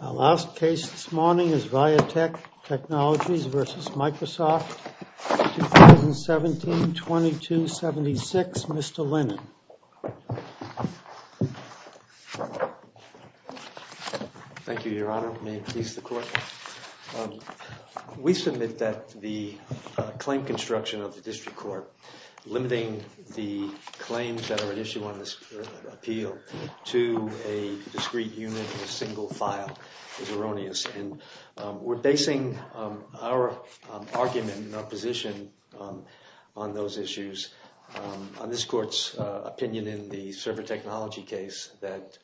Our last case this morning is Viatech Technologies v. Microsoft, 2017-2276. Mr. Lennon. Thank you, Your Honor. May it please the Court? We submit that the claim construction of the District Court limiting the claims that are at issue on this appeal to a discrete unit in a single file is erroneous. And we're basing our argument and our position on those issues on this Court's opinion in the server technology case that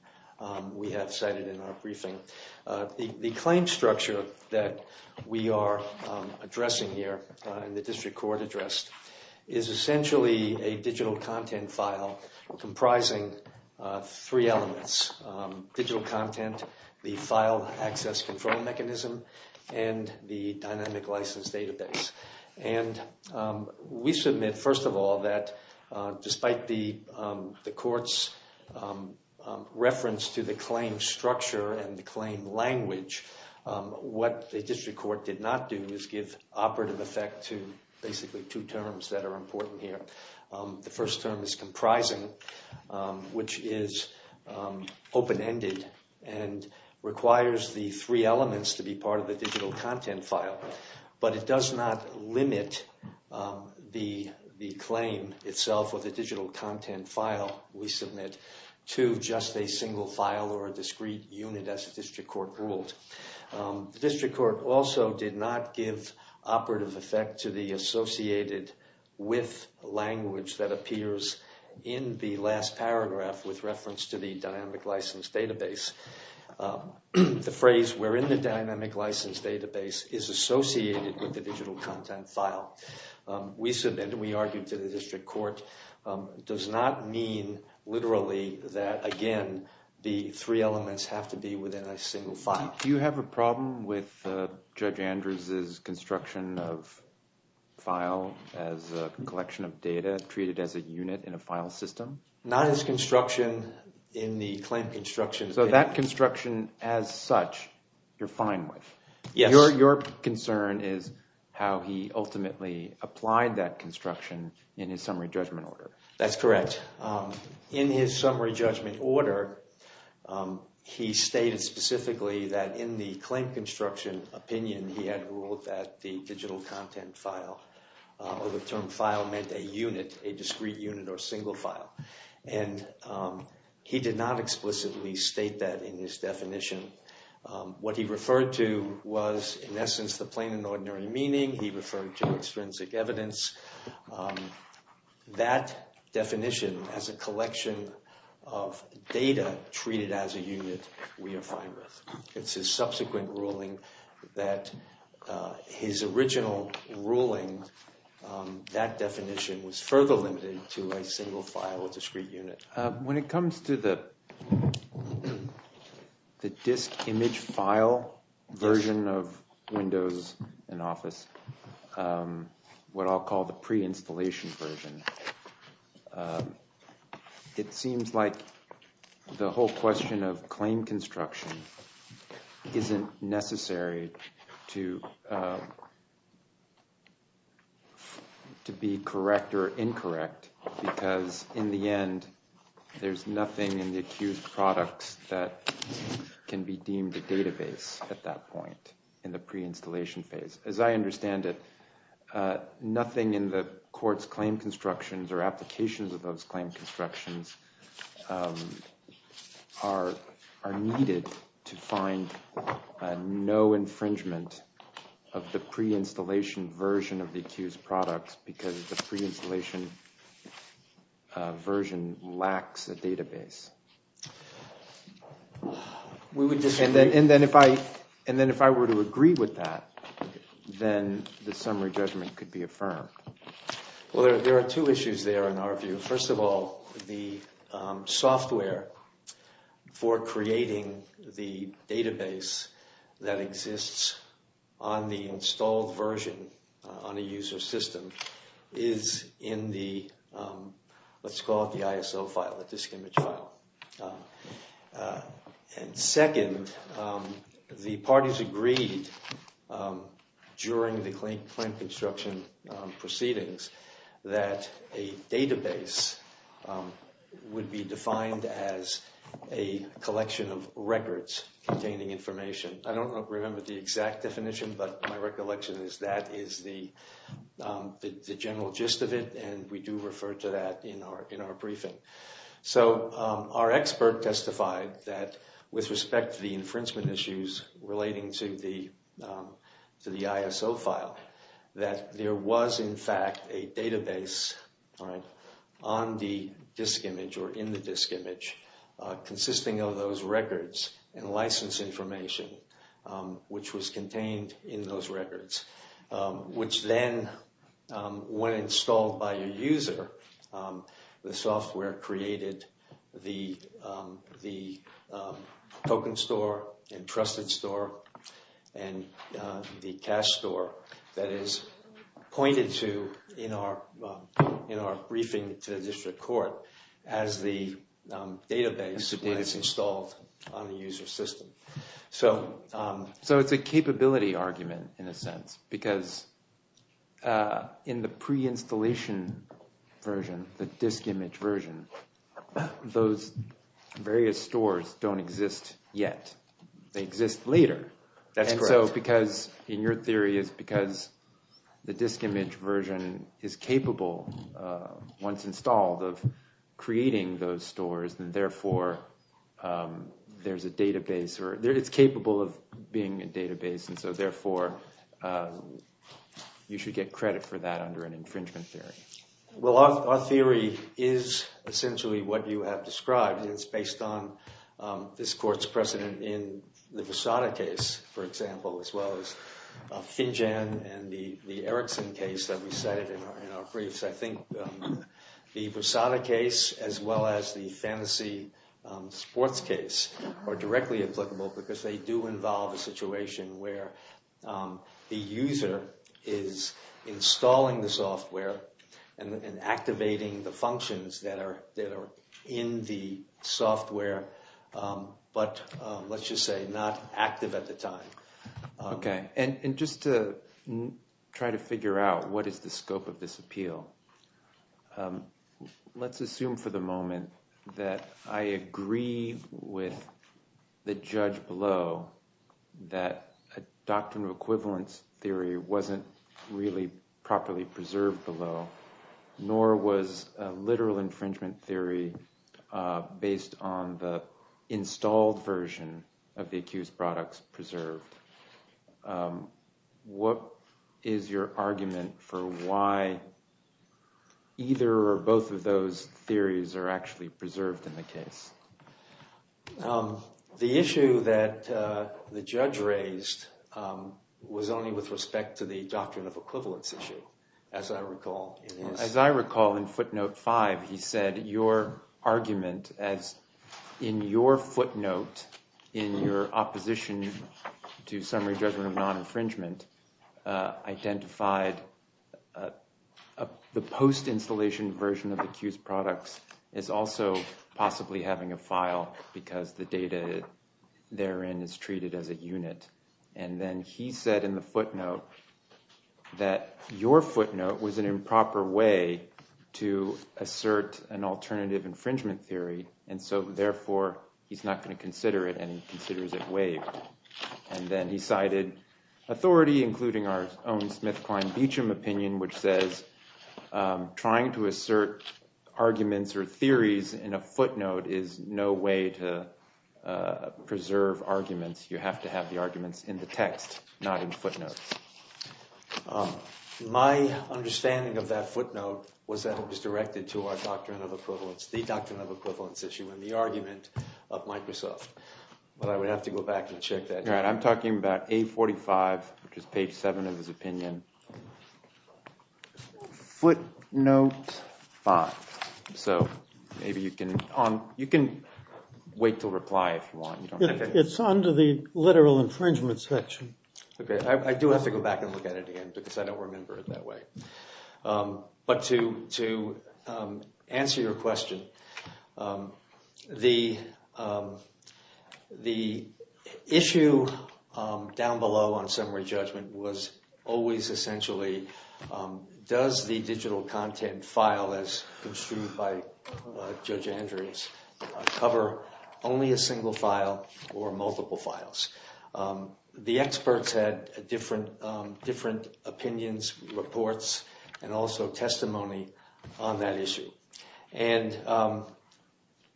we have cited in our briefing. The claim structure that we are addressing here in the District Court address is essentially a digital content file comprising three elements, digital content, the file access control mechanism, and the dynamic license database. And we submit, first of all, that despite the Court's reference to the claim structure and the claim language, what the District Court did not do is give operative effect to basically two terms that are important here. The first term is comprising, which is open-ended and requires the three elements to be part of the digital content file. But it does not limit the claim itself or the digital content file we submit to just a single file or a discrete unit as the District Court ruled. The District Court also did not give operative effect to the associated with language that appears in the last paragraph with reference to the dynamic license database. The phrase, we're in the dynamic license database, is associated with the digital content file. We argued to the District Court does not mean literally that, again, the three elements have to be within a single file. Do you have a problem with Judge Andrews' construction of file as a collection of data treated as a unit in a file system? Not his construction in the claim construction. So that construction as such you're fine with? Yes. Your concern is how he ultimately applied that construction in his summary judgment order. That's correct. In his summary judgment order, he stated specifically that in the claim construction opinion he had ruled that the digital content file or the term file meant a unit, a discrete unit or a single file. And he did not explicitly state that in his definition. What he referred to was, in essence, the plain and ordinary meaning. He referred to extrinsic evidence. That definition as a collection of data treated as a unit we are fine with. It's his subsequent ruling that his original ruling, that definition was further limited to a single file or discrete unit. When it comes to the disk image file version of Windows and Office, what I'll call the pre-installation version, it seems like the whole question of claim construction isn't necessary to be correct or incorrect because, in the end, there's nothing in the accused products that can be deemed a database at that point in the pre-installation phase. As I understand it, nothing in the court's claim constructions or applications of those claim constructions are needed to find no infringement of the pre-installation version of the accused products because the pre-installation version lacks a database. And then if I were to agree with that, then the summary judgment could be affirmed. Well, there are two issues there in our view. First of all, the software for creating the database that exists on the installed version on a user system is in the, let's call it the ISO file, the disk image file. And second, the parties agreed during the claim construction proceedings that a database would be defined as a collection of records containing information. I don't remember the exact definition, but my recollection is that is the general gist of it and we do refer to that in our briefing. So, our expert testified that with respect to the infringement issues relating to the ISO file, that there was in fact a database on the disk image or in the disk image consisting of those records and license information which was contained in those records. Which then, when installed by a user, the software created the token store and trusted store and the cash store that is pointed to in our briefing to the district court as the database when it's installed on the user system. So, it's a capability argument in a sense, because in the pre-installation version, the disk image version, those various stores don't exist yet. They exist later. That's correct. And so, because, in your theory, it's because the disk image version is capable, once installed, of creating those stores and therefore there's a database or it's capable of being a database and so therefore you should get credit for that under an infringement theory. Well, our theory is essentially what you have described and it's based on this court's precedent in the Versada case, for example, as well as Finjan and the Erickson case that we cited in our briefs. I think the Versada case as well as the Fantasy Sports case are directly applicable because they do involve a situation where the user is installing the software and activating the functions that are in the software but, let's just say, not active at the time. Okay. And just to try to figure out what is the scope of this appeal, let's assume for the moment that I agree with the judge below that a doctrine of equivalence theory wasn't really properly preserved below, nor was a literal infringement theory based on the installed version of the accused products preserved. What is your argument for why either or both of those theories are actually preserved in the case? The issue that the judge raised was only with respect to the doctrine of equivalence issue, as I recall. As I recall, in footnote 5, he said your argument as in your footnote, in your opposition to summary judgment of non-infringement, identified the post-installation version of the accused products as also possibly having a file because the data therein is treated as a unit. And then he said in the footnote that your footnote was an improper way to assert an alternative infringement theory and so, therefore, he's not going to consider it and he considers it waived. And then he cited authority, including our own Smith-Klein-Beacham opinion, which says trying to assert arguments or theories in a footnote is no way to preserve arguments. You have to have the arguments in the text, not in footnotes. My understanding of that footnote was that it was directed to our doctrine of equivalence, the doctrine of equivalence issue, and the argument of Microsoft. But I would have to go back and check that. I'm talking about A45, which is page 7 of his opinion. Footnote 5. So maybe you can wait to reply if you want. It's under the literal infringement section. Okay, I do have to go back and look at it again because I don't remember it that way. But to answer your question, the issue down below on summary judgment was always essentially does the digital content file as construed by Judge Andrews cover only a single file or multiple files? The experts had different opinions, reports, and also testimony on that issue.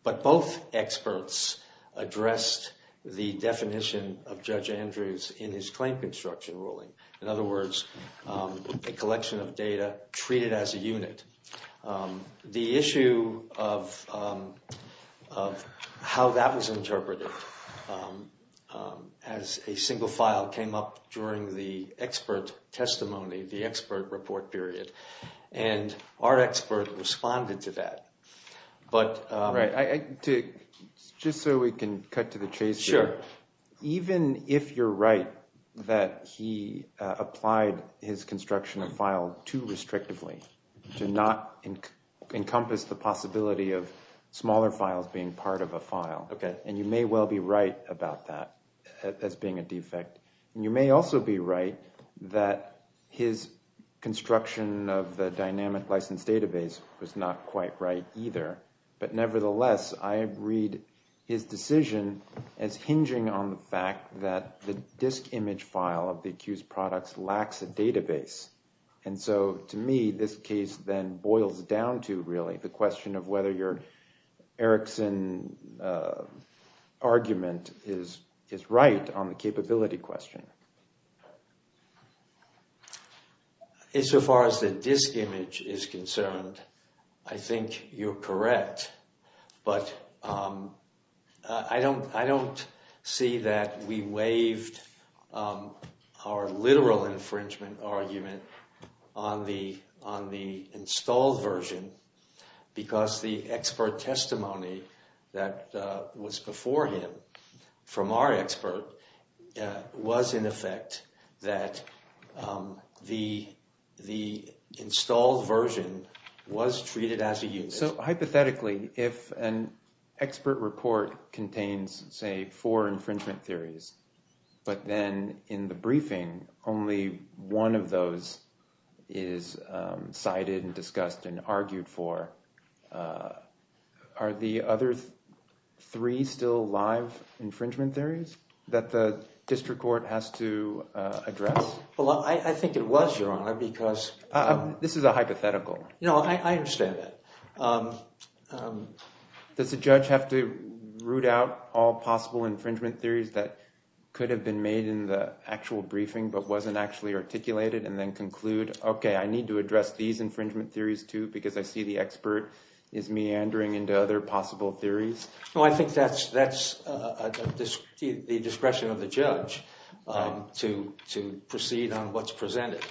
But both experts addressed the definition of Judge Andrews in his claim construction ruling. In other words, a collection of data treated as a unit. The issue of how that was interpreted as a single file came up during the expert testimony, the expert report period. And our expert responded to that. Just so we can cut to the chase here, even if you're right that he applied his construction of file too restrictively to not encompass the possibility of smaller files being part of a file, and you may well be right about that as being a defect. And you may also be right that his construction of the dynamic license database was not quite right either. But nevertheless, I read his decision as hinging on the fact that the disk image file of the accused products lacks a database. And so to me, this case then boils down to really the question of whether your Erickson argument is right on the capability question. So far as the disk image is concerned, I think you're correct. But I don't see that we waived our literal infringement argument on the installed version because the expert testimony that was before him from our expert was in effect that the installed version was treated as a unit. So hypothetically, if an expert report contains, say, four infringement theories, but then in the briefing, only one of those is cited and discussed and argued for, are the other three still live infringement theories that the district court has to address? Well, I think it was your honor because This is a hypothetical. No, I understand that. Does the judge have to root out all possible infringement theories that could have been made in the actual briefing but wasn't actually articulated and then conclude, OK, I need to address these infringement theories, too, because I see the expert is meandering into other possible theories? Well, I think that's the discretion of the judge to proceed on what's presented.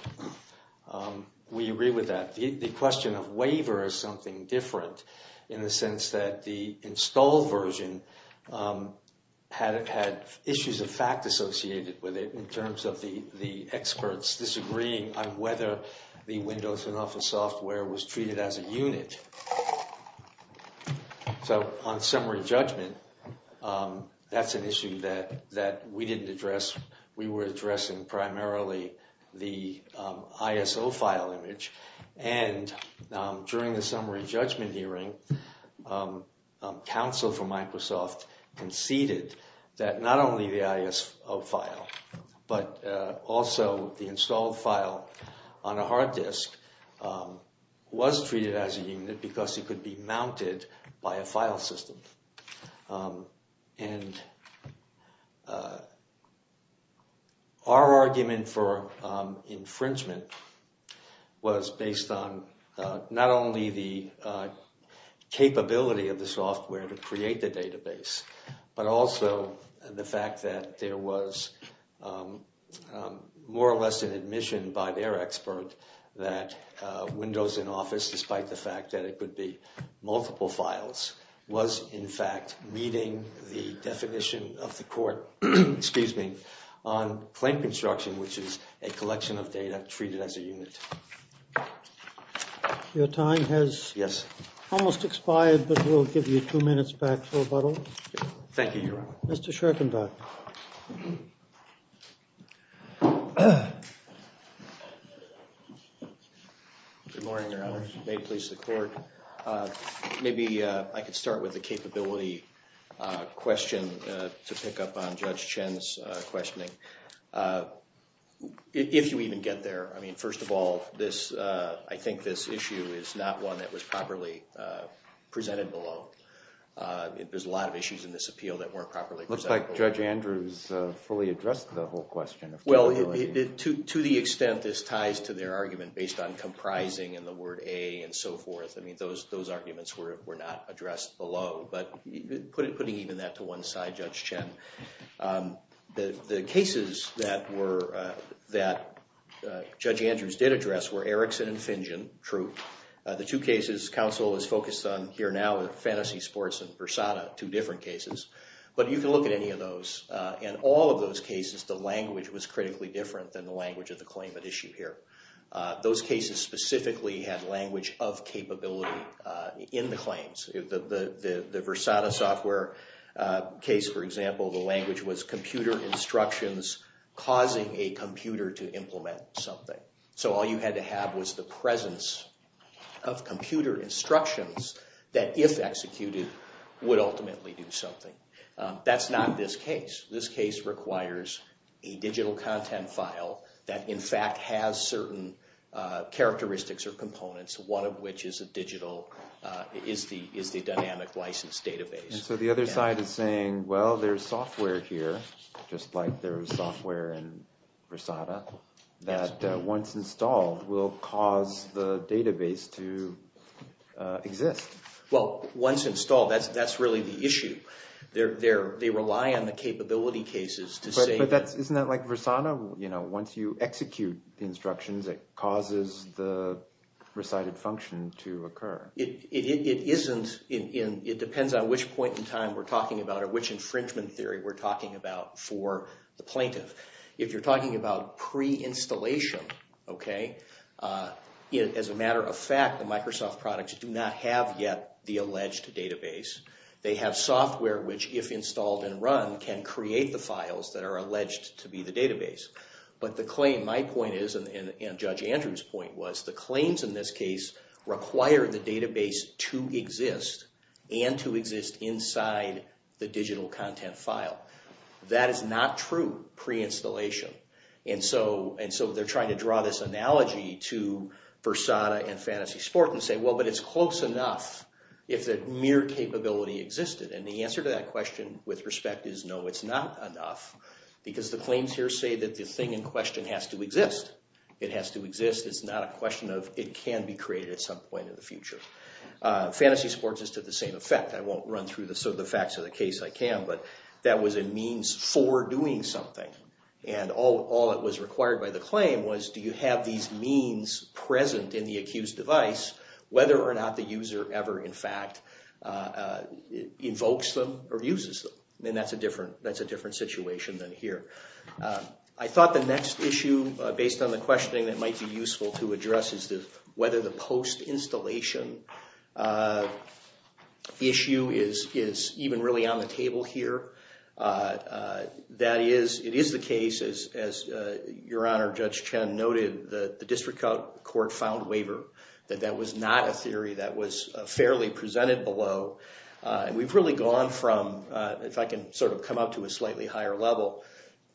We agree with that. The question of waiver is something different in the sense that the installed version had issues of fact associated with it in terms of the experts disagreeing on whether the Windows and Office software was treated as a unit. So on summary judgment, that's an issue that we didn't address. We were addressing primarily the ISO file image, and during the summary judgment hearing, counsel from Microsoft conceded that not only the ISO file, but also the installed file on a hard disk was treated as a unit because it could be mounted by a file system. And our argument for infringement was based on not only the capability of the software to create the database, but also the fact that there was more or less an admission by their expert that Windows and Office, despite the fact that it could be multiple files, was infringed. In fact, meeting the definition of the court, excuse me, on plank construction, which is a collection of data treated as a unit. Your time has almost expired, but we'll give you two minutes back for rebuttal. Thank you, Your Honor. Mr. Schorkenbach. Good morning, Your Honor. May it please the court. Maybe I could start with a capability question to pick up on Judge Chen's questioning. If you even get there, I mean, first of all, I think this issue is not one that was properly presented below. There's a lot of issues in this appeal that weren't properly presented below. Looks like Judge Andrews fully addressed the whole question of capability. To the extent this ties to their argument based on comprising and the word A and so forth, I mean, those arguments were not addressed below. But putting even that to one side, Judge Chen, the cases that Judge Andrews did address were Erickson and Fingen, true. The two cases counsel is focused on here now, Fantasy Sports and Versada, two different cases. But you can look at any of those. In all of those cases, the language was critically different than the language of the claim at issue here. Those cases specifically had language of capability in the claims. The Versada software case, for example, the language was computer instructions causing a computer to implement something. So all you had to have was the presence of computer instructions that, if executed, would ultimately do something. That's not this case. This case requires a digital content file that, in fact, has certain characteristics or components, one of which is the dynamic license database. So the other side is saying, well, there's software here, just like there is software in Versada, that once installed will cause the database to exist. Well, once installed, that's really the issue. They rely on the capability cases to say that. But isn't that like Versada? Once you execute the instructions, it causes the recited function to occur. It depends on which point in time we're talking about or which infringement theory we're talking about for the plaintiff. If you're talking about pre-installation, as a matter of fact, the Microsoft products do not have yet the alleged database. They have software which, if installed and run, can create the files that are alleged to be the database. But the claim, my point is, and Judge Andrews' point was, the claims in this case require the database to exist and to exist inside the digital content file. That is not true pre-installation. And so they're trying to draw this analogy to Versada and Fantasy Sport and say, well, but it's close enough if the mere capability existed. And the answer to that question, with respect, is no, it's not enough. Because the claims here say that the thing in question has to exist. It has to exist. It's not a question of it can be created at some point in the future. Fantasy Sport is to the same effect. I won't run through the facts of the case. I can. But that was a means for doing something. And all that was required by the claim was, do you have these means present in the accused device, whether or not the user ever, in fact, invokes them or uses them? And that's a different situation than here. I thought the next issue, based on the questioning that might be useful to address, is whether the post-installation issue is even really on the table here. That is, it is the case, as Your Honor, Judge Chen noted, that the district court filed a waiver. That that was not a theory that was fairly presented below. And we've really gone from, if I can sort of come up to a slightly higher level,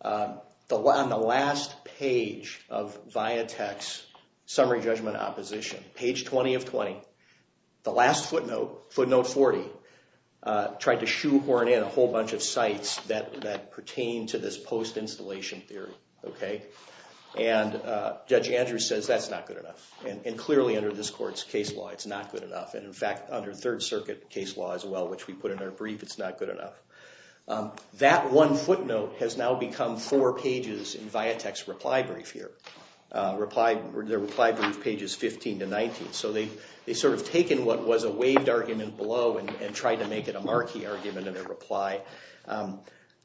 on the last page of VIA Tech's summary judgment opposition, page 20 of 20, the last footnote, footnote 40, tried to shoehorn in a whole bunch of sites that pertain to this post-installation theory. And Judge Andrews says that's not good enough. And clearly under this court's case law, it's not good enough. And in fact, under Third Circuit case law as well, which we put in our brief, it's not good enough. That one footnote has now become four pages in VIA Tech's reply brief here. Their reply brief page is 15 to 19. So they've sort of taken what was a waived argument below and tried to make it a marquee argument in their reply.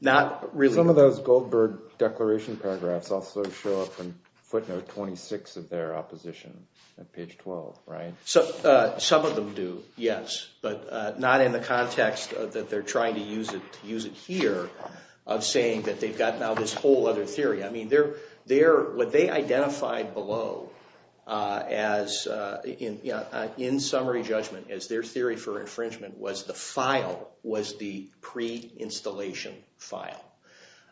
Not really— Some of those Goldberg declaration paragraphs also show up in footnote 26 of their opposition at page 12, right? Some of them do, yes. But not in the context that they're trying to use it here of saying that they've got now this whole other theory. I mean, what they identified below in summary judgment as their theory for infringement was the file was the pre-installation file.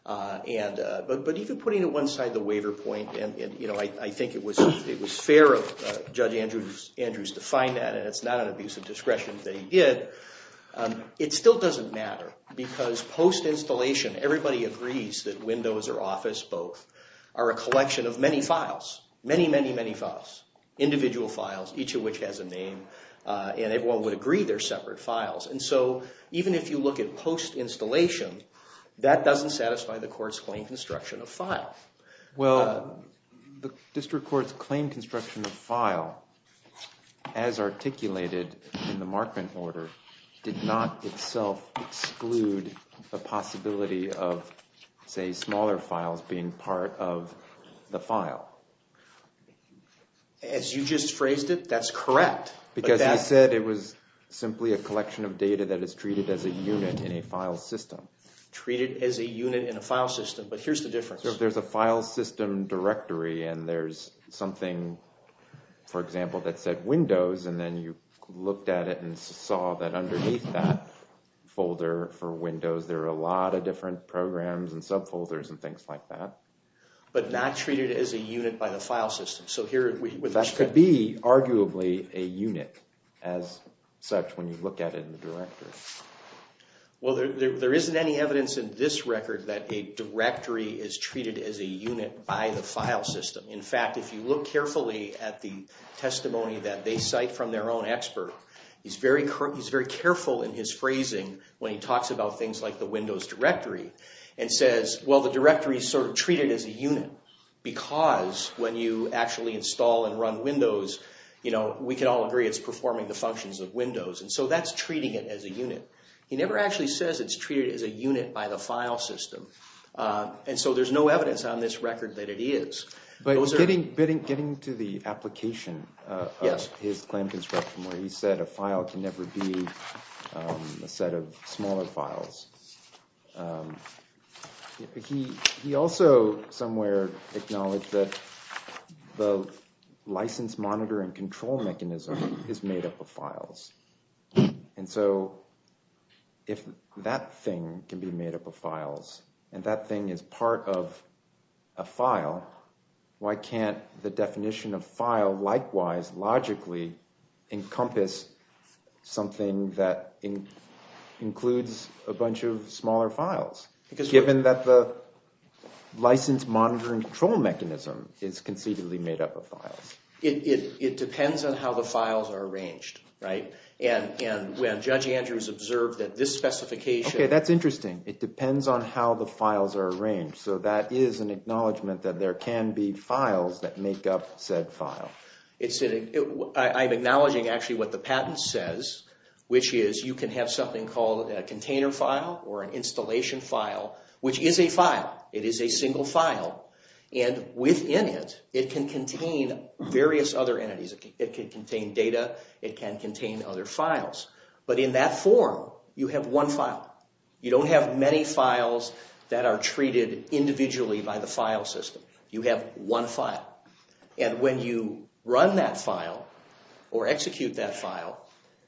But even putting it one side of the waiver point, and I think it was fair of Judge Andrews to find that, and it's not an abuse of discretion that he did, it still doesn't matter. Because post-installation, everybody agrees that Windows or Office, both, are a collection of many files. Many, many, many files. Individual files, each of which has a name, and everyone would agree they're separate files. And so even if you look at post-installation, that doesn't satisfy the court's claim construction of file. Well, the district court's claim construction of file, as articulated in the Markman order, did not itself exclude the possibility of, say, smaller files being part of the file. As you just phrased it, that's correct. Because he said it was simply a collection of data that is treated as a unit in a file system. Treated as a unit in a file system, but here's the difference. There's a file system directory, and there's something, for example, that said Windows, and then you looked at it and saw that underneath that folder for Windows, there are a lot of different programs and subfolders and things like that. But not treated as a unit by the file system. That could be, arguably, a unit as such when you look at it in the directory. Well, there isn't any evidence in this record that a directory is treated as a unit by the file system. In fact, if you look carefully at the testimony that they cite from their own expert, he's very careful in his phrasing when he talks about things like the Windows directory, and says, well, the directory's sort of treated as a unit, because when you actually install and run Windows, we can all agree it's performing the functions of Windows. And so that's treating it as a unit. He never actually says it's treated as a unit by the file system. And so there's no evidence on this record that it is. But getting to the application of his claim construction where he said a file can never be a set of smaller files, he also somewhere acknowledged that the license monitor and control mechanism is made up of files. And so if that thing can be made up of files, and that thing is part of a file, why can't the definition of file likewise logically encompass something that includes a bunch of smaller files? Given that the license monitor and control mechanism is conceivably made up of files. It depends on how the files are arranged, right? And when Judge Andrews observed that this specification... Okay, that's interesting. It depends on how the files are arranged. So that is an acknowledgement that there can be files that make up said file. I'm acknowledging actually what the patent says, which is you can have something called a container file or an installation file, which is a file. It is a single file. And within it, it can contain various other entities. It can contain data. It can contain other files. But in that form, you have one file. You don't have many files that are treated individually by the file system. You have one file. And when you run that file or execute that file,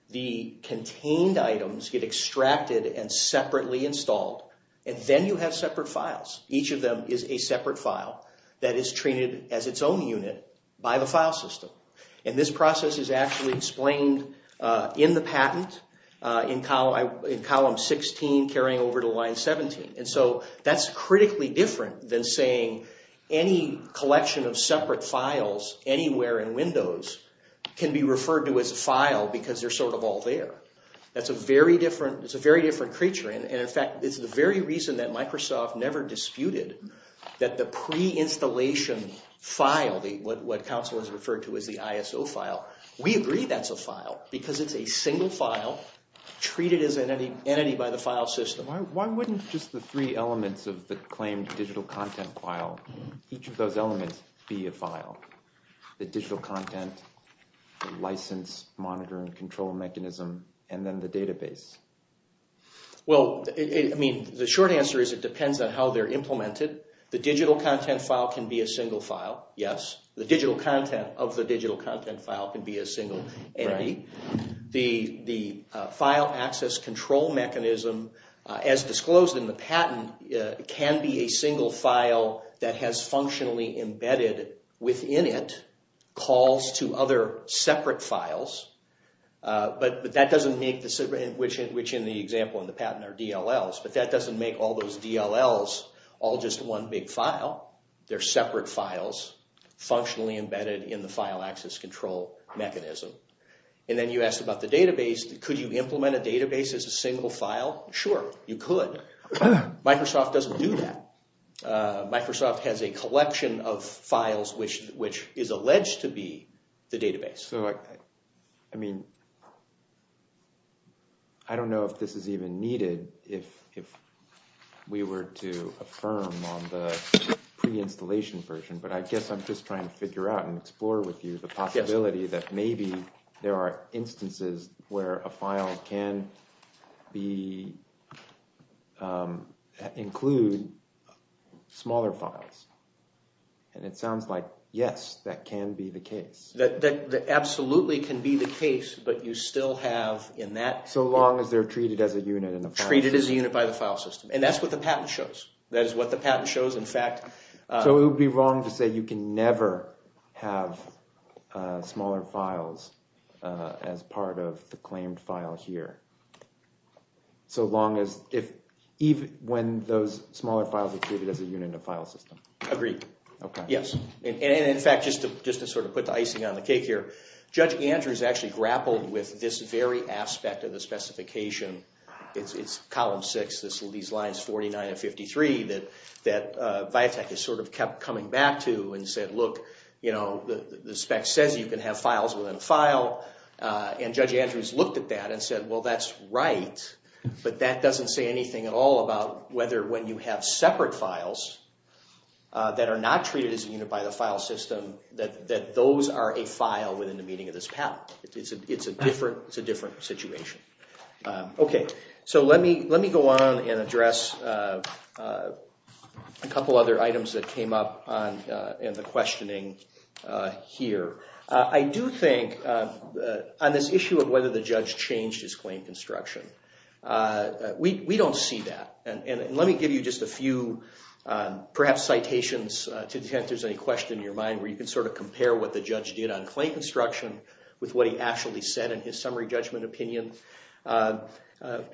the contained items get extracted and separately installed. And then you have separate files. Each of them is a separate file that is treated as its own unit by the file system. And this process is actually explained in the patent in column 16, carrying over to line 17. And so that's critically different than saying any collection of separate files anywhere in Windows can be referred to as a file because they're sort of all there. That's a very different creature. And in fact, it's the very reason that Microsoft never disputed that the pre-installation file, what Council has referred to as the ISO file, we agree that's a file because it's a single file treated as an entity by the file system. Why wouldn't just the three elements of the claimed digital content file, each of those elements, be a file? The digital content, the license, monitor, and control mechanism, and then the database. Well, I mean, the short answer is it depends on how they're implemented. The digital content file can be a single file, yes. The digital content of the digital content file can be a single entity. The file access control mechanism, as disclosed in the patent, can be a single file that has functionally embedded within it, calls to other separate files. But that doesn't make, which in the example in the patent are DLLs, but that doesn't make all those DLLs all just one big file. They're separate files functionally embedded in the file access control mechanism. And then you asked about the database. Could you implement a database as a single file? Sure, you could. Microsoft doesn't do that. Microsoft has a collection of files which is alleged to be the database. So, I mean, I don't know if this is even needed if we were to affirm on the pre-installation version, but I guess I'm just trying to figure out and explore with you the possibility that maybe there are instances where a file can include smaller files. And it sounds like, yes, that can be the case. That absolutely can be the case, but you still have in that... So long as they're treated as a unit in the file system. Treated as a unit by the file system. And that's what the patent shows. That is what the patent shows. So it would be wrong to say you can never have smaller files as part of the claimed file here. So long as, even when those smaller files are treated as a unit in the file system. Agreed. Yes. And in fact, just to sort of put the icing on the cake here, Judge Andrews actually grappled with this very aspect of the specification. It's Column 6, these lines 49 and 53 that VIATEC has sort of kept coming back to and said, look, the spec says you can have files within a file. And Judge Andrews looked at that and said, well, that's right. But that doesn't say anything at all about whether when you have separate files that are not treated as a unit by the file system, that those are a file within the meaning of this patent. It's a different situation. OK. So let me go on and address a couple other items that came up in the questioning here. I do think on this issue of whether the judge changed his claim construction, we don't see that. And let me give you just a few, perhaps citations to detect if there's any question in your mind, where you can sort of compare what the judge did on claim construction with what he actually said in his summary judgment opinion.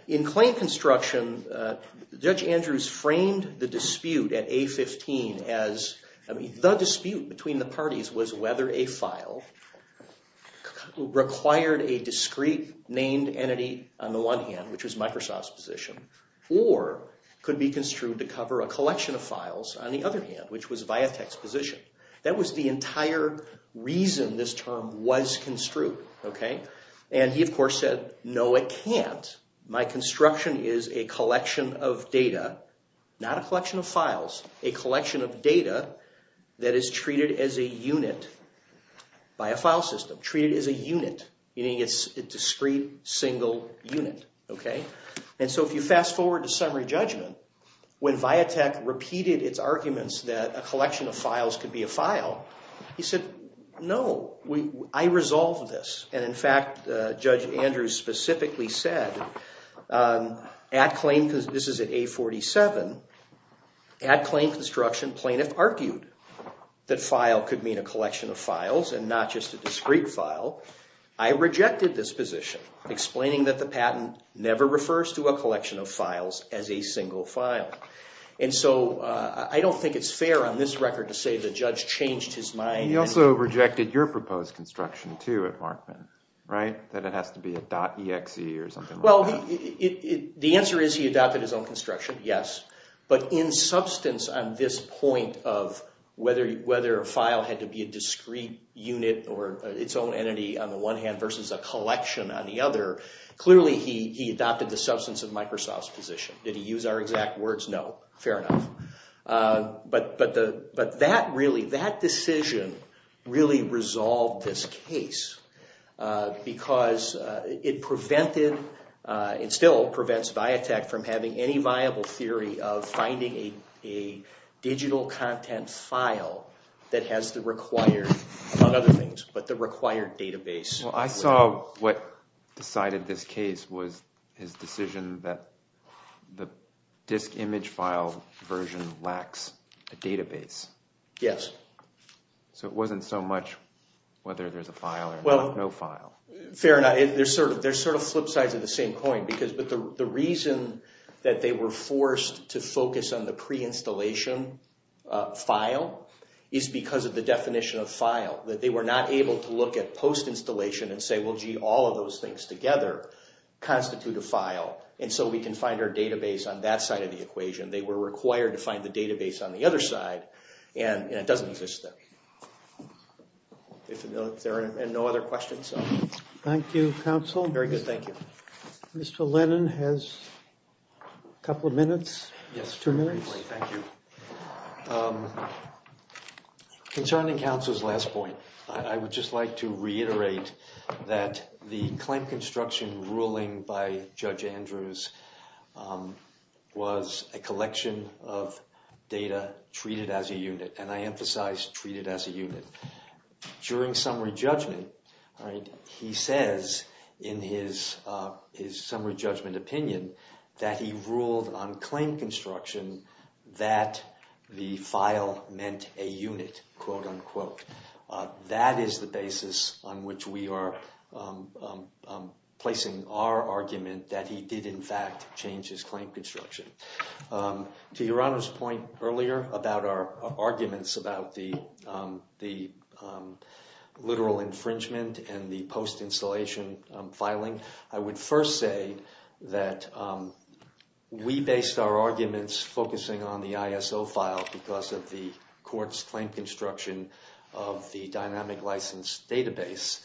In claim construction, Judge Andrews framed the dispute at A-15 as, I mean, the dispute between the parties was whether a file required a discrete named entity on the one hand, which was Microsoft's position, or could be construed to cover a collection of files on the other hand, which was Viatek's position. That was the entire reason this term was construed. And he, of course, said, no, it can't. My construction is a collection of data, not a collection of files, a collection of data that is treated as a unit by a file system. Treated as a unit, meaning it's a discrete single unit. And so if you fast forward to summary judgment, when Viatek repeated its arguments that a collection of files could be a file, he said, no, I resolved this. And in fact, Judge Andrews specifically said, this is at A-47, at claim construction, plaintiff argued that file could mean a collection of files and not just a discrete file. I rejected this position, explaining that the patent never refers to a collection of files as a single file. And so I don't think it's fair on this record to say the judge changed his mind. He also rejected your proposed construction, too, at Markman, right? That it has to be a .exe or something like that. Well, the answer is he adopted his own construction, yes. But in substance on this point of whether a file had to be a discrete unit or its own entity on the one hand versus a collection on the other, clearly he adopted the substance of Microsoft's position. Did he use our exact words? No. Fair enough. But that decision really resolved this case because it still prevents Viatek from having any viable theory of finding a digital content file that has the required, among other things, but the required database. Well, I saw what decided this case was his decision that the disk image file version lacks a database. Yes. So it wasn't so much whether there's a file or not. No file. Fair enough. They're sort of flip sides of the same coin. But the reason that they were forced to focus on the pre-installation file is because of the definition of file, that they were not able to look at post-installation and say, well, gee, all of those things together constitute a file, and so we can find our database on that side of the equation. They were required to find the database on the other side, and it doesn't exist there. If there are no other questions. Thank you, counsel. Very good. Thank you. Mr. Lennon has a couple of minutes. Yes. Two minutes. Thank you. Concerning counsel's last point, I would just like to reiterate that the claim construction ruling by Judge Andrews was a collection of data treated as a unit, and I emphasize treated as a unit. During summary judgment, he says in his summary judgment opinion that he ruled on claim construction that the file meant a unit, quote, unquote. That is the basis on which we are placing our argument that he did, in fact, change his claim construction. To Your Honor's point earlier about our arguments about the literal infringement and the post-installation filing, I would first say that we based our arguments focusing on the ISO file because of the court's claim construction of the dynamic license database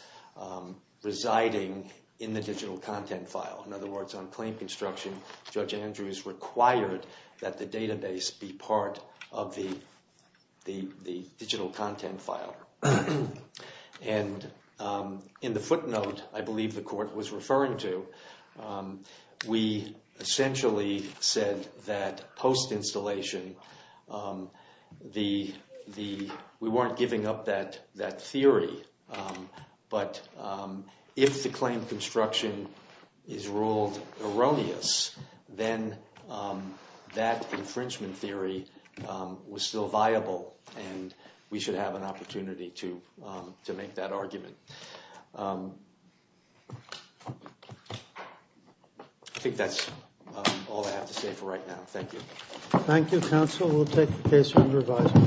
residing in the digital content file. In other words, on claim construction, Judge Andrews required that the database be part of the digital content file. And in the footnote I believe the court was referring to, we essentially said that post-installation, we weren't giving up that theory, but if the claim construction is ruled erroneous, then that infringement theory was still viable and we should have an opportunity to make that argument. I think that's all I have to say for right now. Thank you. Thank you, counsel. We'll take the case under revisal.